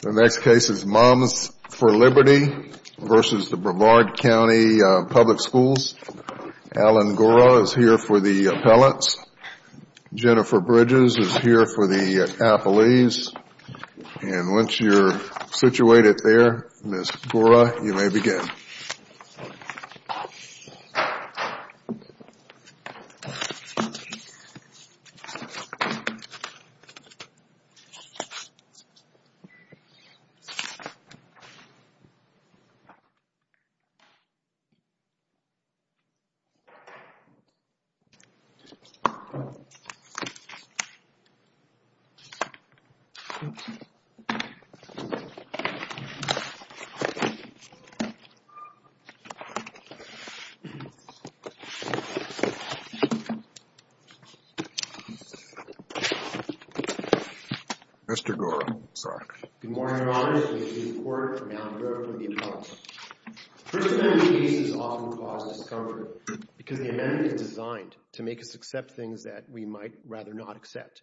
The next case is Moms for Liberty v. Brevard County Public Schools. Alan Gora is here for the appellants. Jennifer Bridges is here for the appellees. And once you're situated there, Ms. Gora, you may begin. Mr. Gora, I'm sorry. Good morning, Your Honor. I'm here for the appellant. First Amendment cases often cause discomfort because the amendment is designed to make us accept things that we might rather not accept.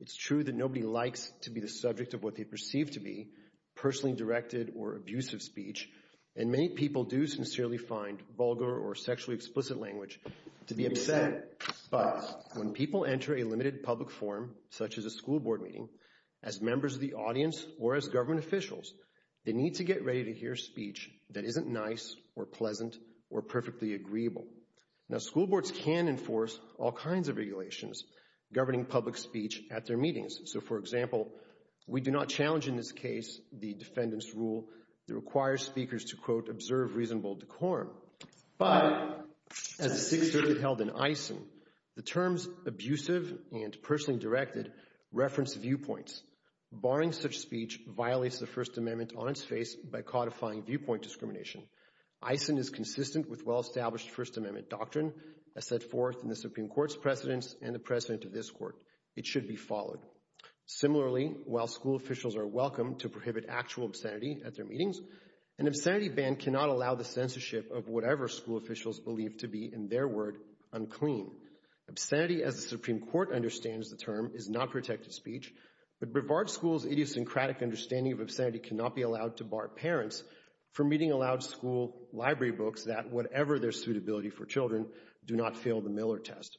It's true that nobody likes to be the subject of what they perceive to be personally directed or abusive speech. And many people do sincerely find vulgar or sexually explicit language to be upset. But when people enter a limited public forum, such as a school board meeting, as members of the audience or as government officials, they need to get ready to hear speech that isn't nice or pleasant or perfectly agreeable. Now, school boards can enforce all kinds of regulations governing public speech at their meetings. So, for example, we do not challenge in this case the defendant's rule that requires speakers to, quote, observe reasonable decorum. But as the Sixth Circuit held in Eisen, the terms abusive and personally directed reference viewpoints. Barring such speech violates the First Amendment on its face by codifying viewpoint discrimination. Eisen is consistent with well-established First Amendment doctrine as set forth in the Supreme Court's precedents and the precedent of this court. It should be followed. Similarly, while school officials are welcome to prohibit actual obscenity at their meetings, an obscenity ban cannot allow the censorship of whatever school officials believe to be, in their word, unclean. Obscenity, as the Supreme Court understands the term, is not protected speech. But Brevard School's idiosyncratic understanding of obscenity cannot be allowed to bar parents from reading aloud school library books that, whatever their suitability for children, do not fail the Miller test.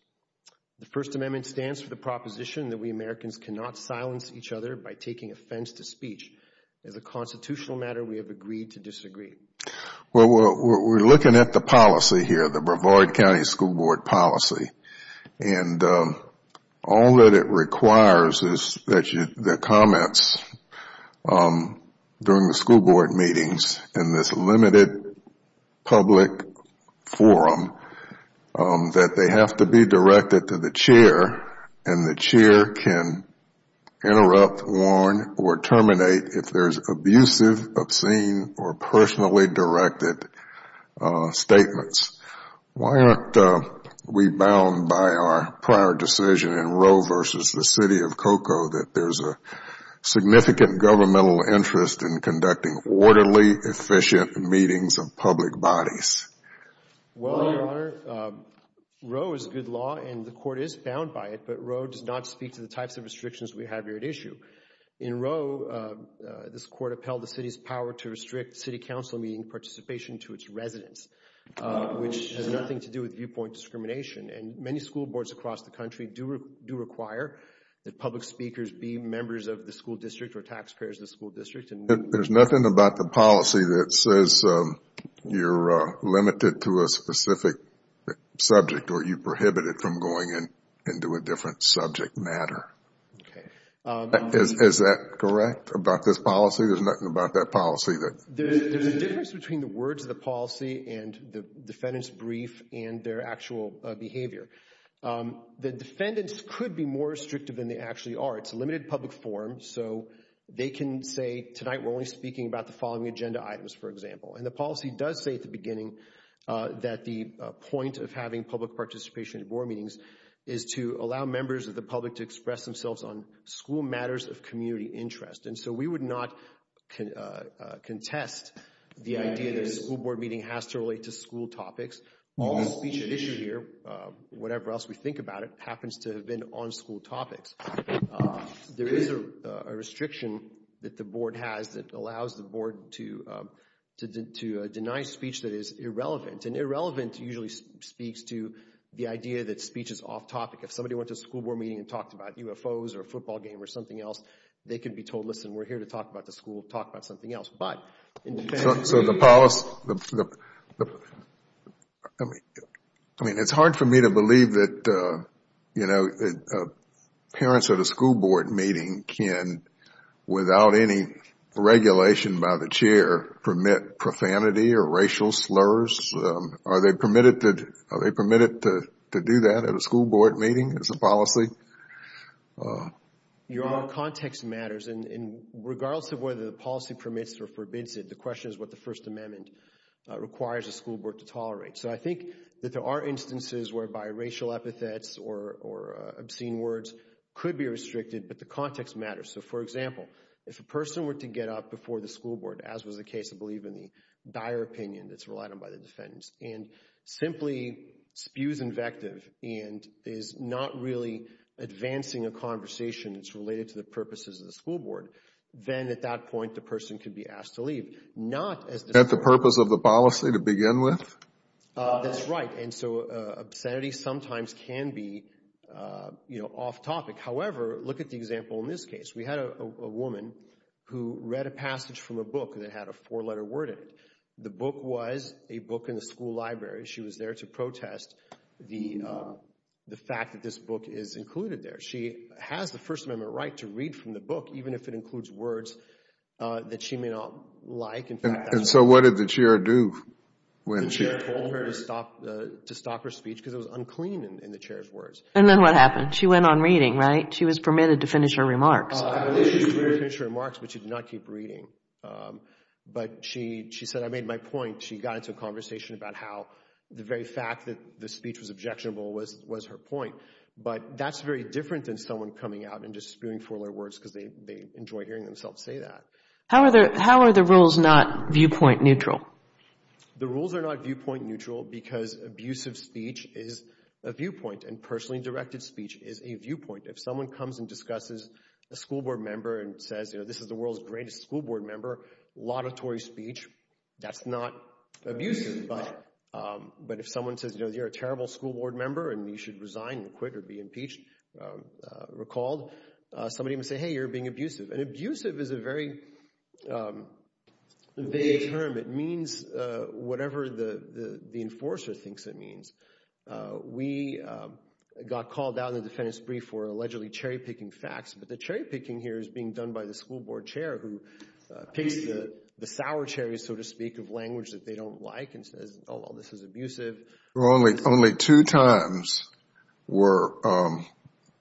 The First Amendment stands for the proposition that we Americans cannot silence each other by taking offense to speech. As a constitutional matter, we have agreed to disagree. Well, we're looking at the policy here, the Brevard County School Board policy. And all that it requires is that the comments during the school board meetings in this limited public forum, that they have to be directed to the chair, and the chair can interrupt, warn, or terminate if there's abusive, obscene, or personally directed statements. Why aren't we bound by our prior decision in Roe v. The City of Cocoa that there's a significant governmental interest in conducting orderly, efficient meetings of public bodies? Well, Your Honor, Roe is good law, and the Court is bound by it. But Roe does not speak to the types of restrictions we have here at issue. In Roe, this Court upheld the City's power to restrict City Council meeting participation to its residents. Which has nothing to do with viewpoint discrimination. And many school boards across the country do require that public speakers be members of the school district or taxpayers of the school district. There's nothing about the policy that says you're limited to a specific subject, or you're prohibited from going into a different subject matter. Okay. Is that correct about this policy? There's nothing about that policy that... There's a difference between the words of the policy and the defendant's brief and their actual behavior. The defendants could be more restrictive than they actually are. It's a limited public forum, so they can say, tonight we're only speaking about the following agenda items, for example. And the policy does say at the beginning that the point of having public participation at board meetings is to allow members of the public to express themselves on school matters of community interest. And so we would not contest the idea that a school board meeting has to relate to school topics. All the speech at issue here, whatever else we think about it, happens to have been on school topics. There is a restriction that the board has that allows the board to deny speech that is irrelevant. And irrelevant usually speaks to the idea that speech is off topic. If somebody went to a school board meeting and talked about UFOs or a football game or something else, they can be told, listen, we're here to talk about the school. Talk about something else. So the policy... I mean, it's hard for me to believe that parents at a school board meeting can, without any regulation by the chair, permit profanity or racial slurs. Are they permitted to do that at a school board meeting as a policy? Your Honor, context matters. And regardless of whether the policy permits or forbids it, the question is what the First Amendment requires a school board to tolerate. So I think that there are instances whereby racial epithets or obscene words could be restricted, but the context matters. So, for example, if a person were to get up before the school board, as was the case, I believe, in the dire opinion that's relied on by the defendants, and simply spews invective and is not really advancing a conversation that's related to the purposes of the school board, then at that point the person could be asked to leave. Not as the purpose of the policy to begin with? That's right. And so obscenity sometimes can be off topic. However, look at the example in this case. We had a woman who read a passage from a book that had a four-letter word in it. The book was a book in the school library. She was there to protest the fact that this book is included there. She has the First Amendment right to read from the book, even if it includes words that she may not like. And so what did the chair do? The chair told her to stop her speech because it was unclean in the chair's words. And then what happened? She went on reading, right? She was permitted to finish her remarks. She did finish her remarks, but she did not keep reading. But she said, I made my point. She got into a conversation about how the very fact that the speech was objectionable was her point. But that's very different than someone coming out and just spewing four-letter words because they enjoy hearing themselves say that. How are the rules not viewpoint neutral? The rules are not viewpoint neutral because abusive speech is a viewpoint, and personally directed speech is a viewpoint. If someone comes and discusses a school board member and says, you know, this is the world's greatest school board member, laudatory speech, that's not abusive. But if someone says, you know, you're a terrible school board member and you should resign and quit or be impeached, recalled, somebody might say, hey, you're being abusive. And abusive is a very vague term. It means whatever the enforcer thinks it means. We got called out in the defendant's brief for allegedly cherry-picking facts, but the cherry-picking here is being done by the school board chair who picks the sour cherries, so to speak, of language that they don't like and says, oh, this is abusive. Only two times were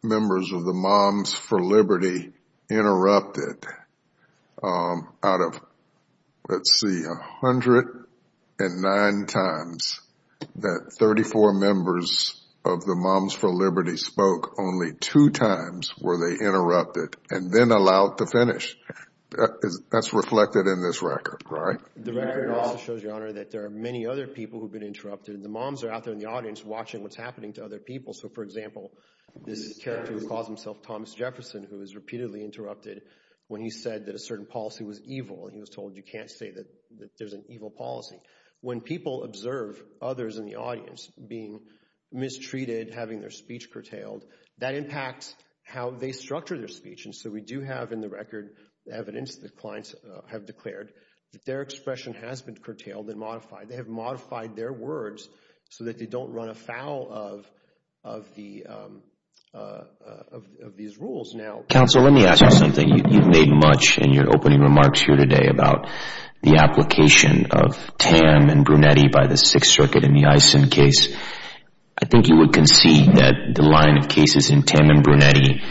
members of the Moms for Liberty interrupted out of, let's see, 109 times that 34 members of the Moms for Liberty spoke. Only two times were they interrupted and then allowed to finish. That's reflected in this record, right? The record also shows, Your Honor, that there are many other people who have been interrupted, and the moms are out there in the audience watching what's happening to other people. So, for example, this character who calls himself Thomas Jefferson, who was repeatedly interrupted when he said that a certain policy was evil, and he was told you can't say that there's an evil policy. When people observe others in the audience being mistreated, having their speech curtailed, that impacts how they structure their speech. So we do have in the record evidence that clients have declared that their expression has been curtailed and modified. They have modified their words so that they don't run afoul of these rules. Counsel, let me ask you something. You've made much in your opening remarks here today about the application of Tam and Brunetti by the Sixth Circuit in the Eisen case. I think you would concede that the line of cases in Tam and Brunetti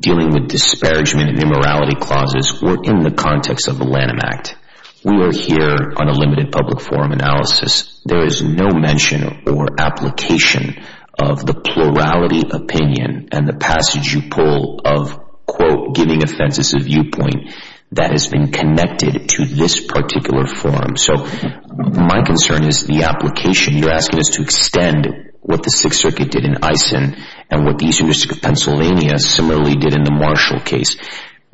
dealing with disparagement and immorality clauses were in the context of the Lanham Act. We are here on a limited public forum analysis. There is no mention or application of the plurality opinion and the passage you pull of, quote, giving offenses a viewpoint that has been connected to this particular forum. So my concern is the application. You're asking us to extend what the Sixth Circuit did in Eisen and what the Eastern District of Pennsylvania similarly did in the Marshall case.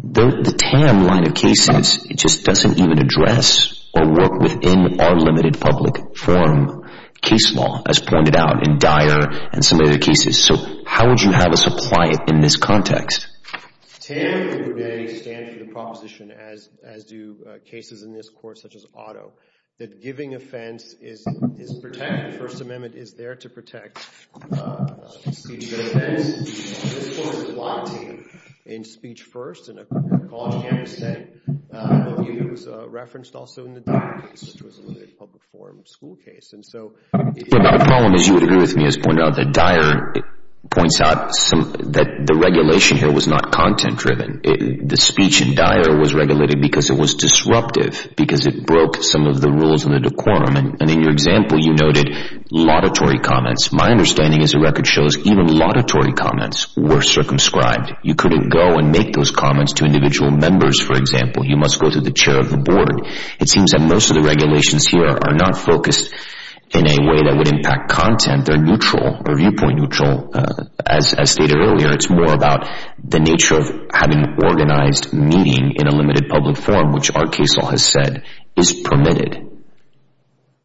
The Tam line of cases just doesn't even address or work within our limited public forum case law, as pointed out in Dyer and some other cases. So how would you have us apply it in this context? Tam and Brunetti stand for the proposition, as do cases in this court such as Otto, that giving offense is protected. The First Amendment is there to protect receiving an offense. This court is blocking in speech first. And a college candidate said a view here was referenced also in the Dyer case, which was a limited public forum school case. And so the problem is you would agree with me as pointed out that Dyer points out that the regulation here was not content-driven. The speech in Dyer was regulated because it was disruptive, because it broke some of the rules in the decorum. And in your example, you noted laudatory comments. My understanding is the record shows even laudatory comments were circumscribed. You couldn't go and make those comments to individual members, for example. You must go to the chair of the board. It seems that most of the regulations here are not focused in a way that would impact content. They're neutral or viewpoint neutral. As stated earlier, it's more about the nature of having organized meeting in a limited public forum, which our case law has said is permitted.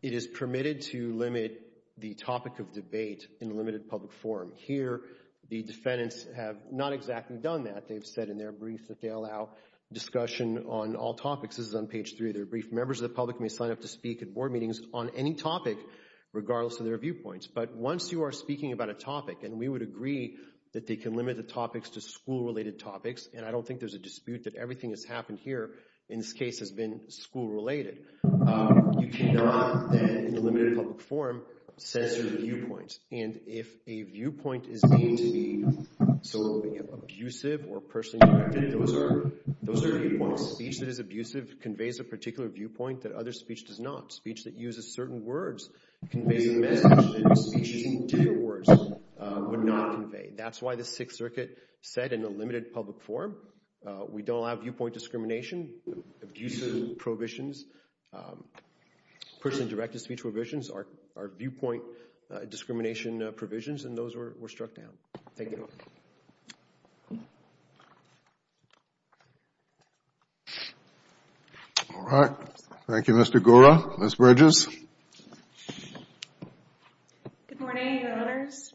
It is permitted to limit the topic of debate in a limited public forum. Here, the defendants have not exactly done that. They've said in their brief that they allow discussion on all topics. This is on page 3 of their brief. Members of the public may sign up to speak at board meetings on any topic, regardless of their viewpoints. But once you are speaking about a topic, and we would agree that they can limit the topics to school-related topics, and I don't think there's a dispute that everything that's happened here in this case has been school-related, you cannot, then, in a limited public forum, censor the viewpoints. And if a viewpoint is deemed to be abusive or person-directed, those are viewpoints. Speech that is abusive conveys a particular viewpoint that other speech does not. Speech that uses certain words conveys a message that speech using two words would not convey. That's why the Sixth Circuit said in a limited public forum, we don't allow viewpoint discrimination, abusive prohibitions, person-directed speech prohibitions are viewpoint discrimination provisions, and those were struck down. Thank you. All right. Thank you, Mr. Gora. Ms. Bridges? Good morning, Your Honors.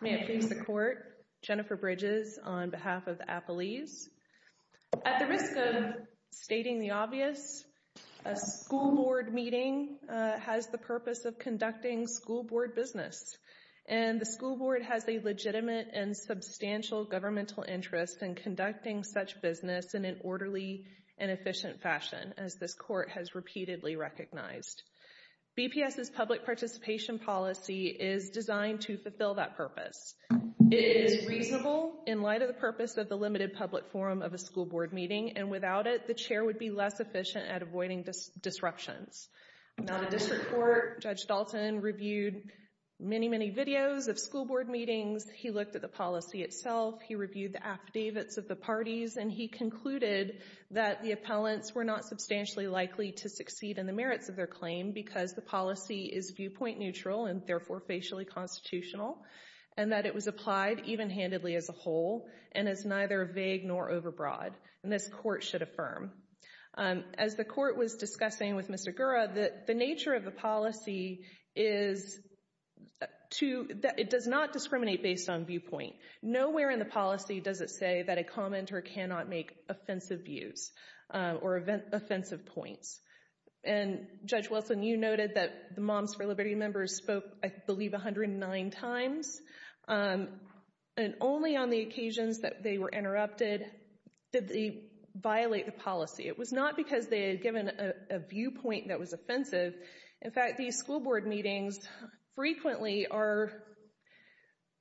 May it please the Court. Jennifer Bridges on behalf of Appalese. At the risk of stating the obvious, a school board meeting has the purpose of conducting school board business, and the school board has a legitimate and substantial governmental interest in conducting such business in an orderly and efficient fashion, as this Court has repeatedly recognized. BPS's public participation policy is designed to fulfill that purpose. It is reasonable in light of the purpose of the limited public forum of a school board meeting, and without it, the chair would be less efficient at avoiding disruptions. Now, the district court, Judge Dalton, reviewed many, many videos of school board meetings. He looked at the policy itself. He reviewed the affidavits of the parties, and he concluded that the appellants were not substantially likely to succeed in the merits of their claim because the policy is viewpoint neutral and, therefore, facially constitutional, and that it was applied even-handedly as a whole and is neither vague nor overbroad, and this Court should affirm. As the Court was discussing with Mr. Gora, the nature of the policy is that it does not discriminate based on viewpoint. Nowhere in the policy does it say that a commenter cannot make offensive views or offensive points, and Judge Wilson, you noted that the Moms for Liberty members spoke, I believe, 109 times, and only on the occasions that they were interrupted did they violate the policy. It was not because they had given a viewpoint that was offensive. In fact, these school board meetings frequently are—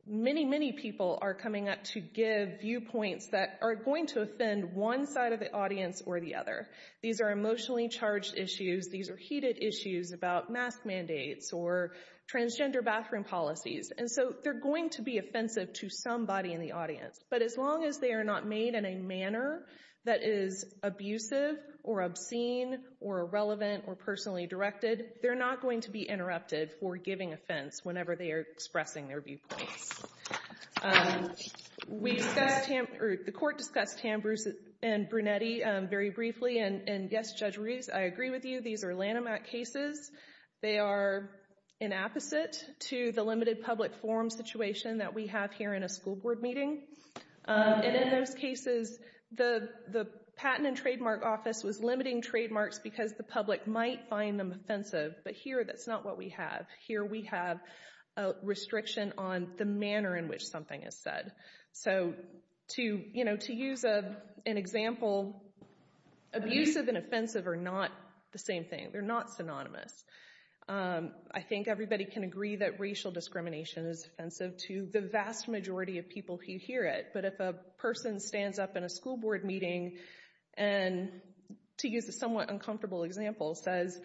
many, many people are coming up to give viewpoints that are going to offend one side of the audience or the other. These are emotionally charged issues. These are heated issues about mask mandates or transgender bathroom policies, and so they're going to be offensive to somebody in the audience, but as long as they are not made in a manner that is abusive or obscene or irrelevant or personally directed, they're not going to be interrupted for giving offense whenever they are expressing their viewpoints. The Court discussed Tam Brunetti very briefly, and yes, Judge Reeves, I agree with you. These are Lanham Act cases. They are an apposite to the limited public forum situation that we have here in a school board meeting, and in those cases, the Patent and Trademark Office was limiting trademarks because the public might find them offensive, but here that's not what we have. Here we have a restriction on the manner in which something is said. So to use an example, abusive and offensive are not the same thing. They're not synonymous. I think everybody can agree that racial discrimination is offensive to the vast majority of people who hear it, but if a person stands up in a school board meeting and, to use a somewhat uncomfortable example, says,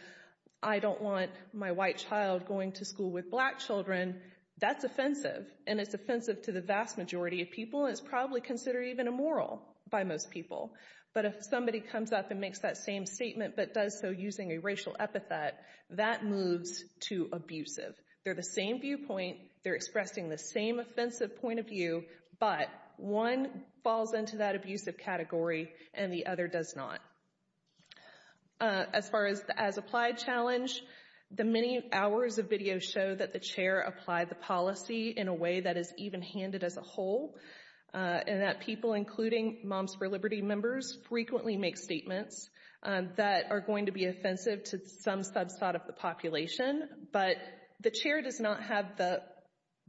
I don't want my white child going to school with black children, that's offensive, and it's offensive to the vast majority of people, and it's probably considered even immoral by most people. But if somebody comes up and makes that same statement but does so using a racial epithet, that moves to abusive. They're the same viewpoint, they're expressing the same offensive point of view, but one falls into that abusive category and the other does not. As far as the as-applied challenge, the many hours of video show that the chair applied the policy in a way that is even-handed as a whole and that people, including Moms for Liberty members, frequently make statements that are going to be offensive to some subset of the population, but the chair does not have the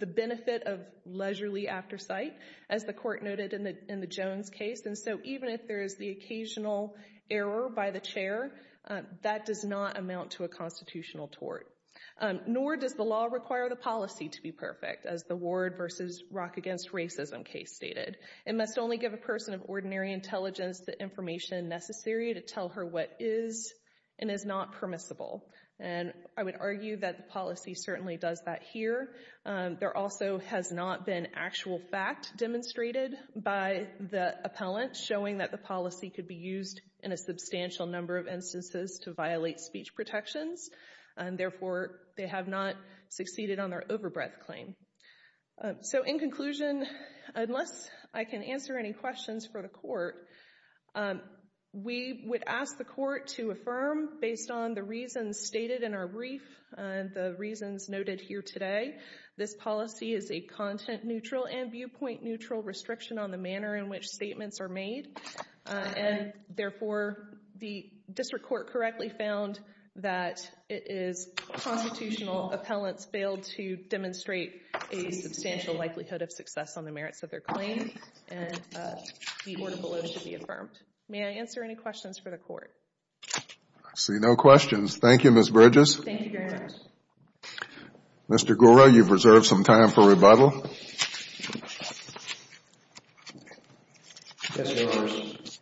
benefit of leisurely aftersight, as the court noted in the Jones case, and so even if there is the occasional error by the chair, that does not amount to a constitutional tort. Nor does the law require the policy to be perfect, as the Ward v. Rock Against Racism case stated. It must only give a person of ordinary intelligence the information necessary to tell her what is and is not permissible, and I would argue that the policy certainly does that here. There also has not been actual fact demonstrated by the appellant showing that the policy could be used in a substantial number of instances to violate speech protections, and therefore they have not succeeded on their overbreadth claim. So in conclusion, unless I can answer any questions for the court, we would ask the court to affirm, based on the reasons stated in our brief and the reasons noted here today, this policy is a content-neutral and viewpoint-neutral restriction on the manner in which statements are made, and therefore the district court correctly found that its constitutional appellants failed to demonstrate a substantial likelihood of success on the merits of their claim, and the order below should be affirmed. May I answer any questions for the court? I see no questions. Thank you, Ms. Bridges. Thank you very much. Mr. Gura, you've reserved some time for rebuttal. Yes, Your Honors.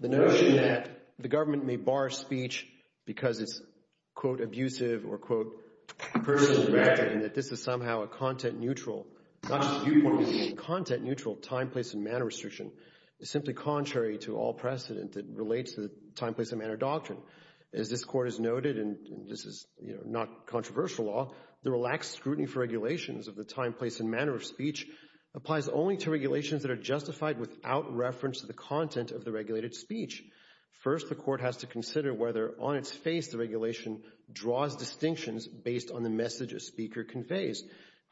The notion that the government may bar speech because it's, quote, abusive or, quote, that this is somehow a content-neutral, not just viewpoint-neutral, content-neutral time, place, and manner restriction is simply contrary to all precedent that relates to the time, place, and manner doctrine. As this Court has noted, and this is not controversial law, the relaxed scrutiny for regulations of the time, place, and manner of speech applies only to regulations that are justified without reference to the content of the regulated speech. First, the court has to consider whether, on its face, the regulation draws distinctions based on the message a speaker conveys.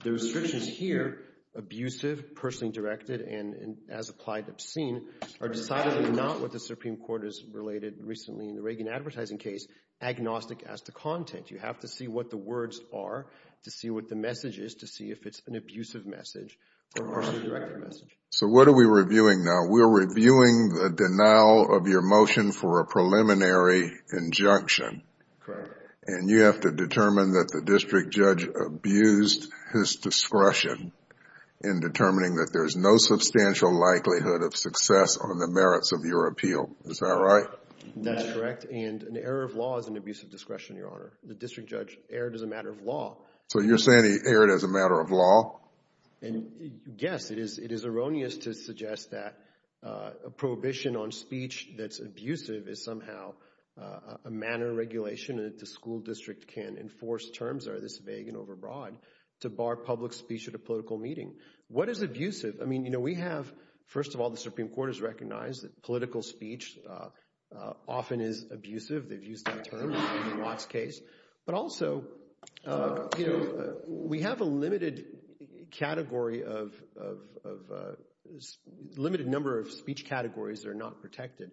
The restrictions here, abusive, personally directed, and, as applied, obscene, are decidedly not what the Supreme Court has related recently in the Reagan advertising case, agnostic as to content. You have to see what the words are to see what the message is to see if it's an abusive message or a personally directed message. So what are we reviewing now? We're reviewing the denial of your motion for a preliminary injunction. Correct. And you have to determine that the district judge abused his discretion in determining that there's no substantial likelihood of success on the merits of your appeal. Is that right? That's correct, and an error of law is an abuse of discretion, Your Honor. The district judge erred as a matter of law. So you're saying he erred as a matter of law? And, yes, it is erroneous to suggest that a prohibition on speech that's abusive is somehow a manner of regulation that the school district can't enforce terms that are this vague and overbroad to bar public speech at a political meeting. What is abusive? I mean, you know, we have, first of all, the Supreme Court has recognized that political speech often is abusive. They've used that term in the Watts case. But also, you know, we have a limited category of limited number of speech categories that are not protected.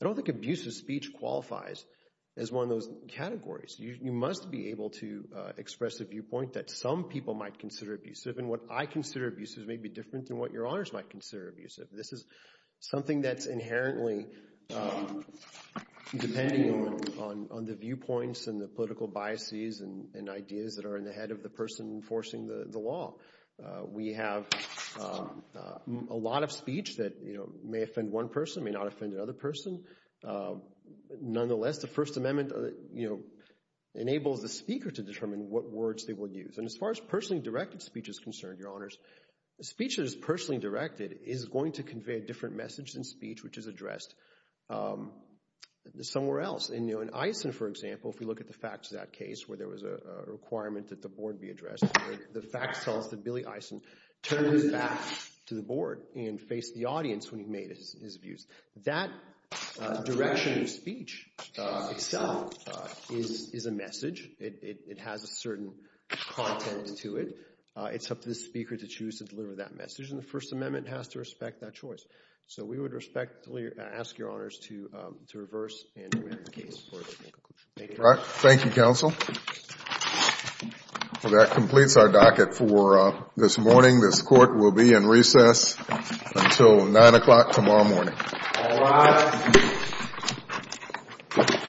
I don't think abusive speech qualifies as one of those categories. You must be able to express a viewpoint that some people might consider abusive, and what I consider abusive may be different than what your honors might consider abusive. This is something that's inherently depending on the viewpoints and the political biases and ideas that are in the head of the person enforcing the law. We have a lot of speech that, you know, may offend one person, may not offend another person. Nonetheless, the First Amendment, you know, enables the speaker to determine what words they will use. And as far as personally directed speech is concerned, Your Honors, speech that is personally directed is going to convey a different message than speech which is addressed somewhere else. In Eisen, for example, if we look at the facts of that case where there was a requirement that the board be addressed, the facts tell us that Billy Eisen turned his back to the board and faced the audience when he made his views. That direction of speech itself is a message. It has a certain content to it. It's up to the speaker to choose to deliver that message, and the First Amendment has to respect that choice. So we would respectfully ask Your Honors to reverse and review the case. Thank you. Thank you, counsel. Well, that completes our docket for this morning. This court will be in recess until 9 o'clock tomorrow morning. All rise.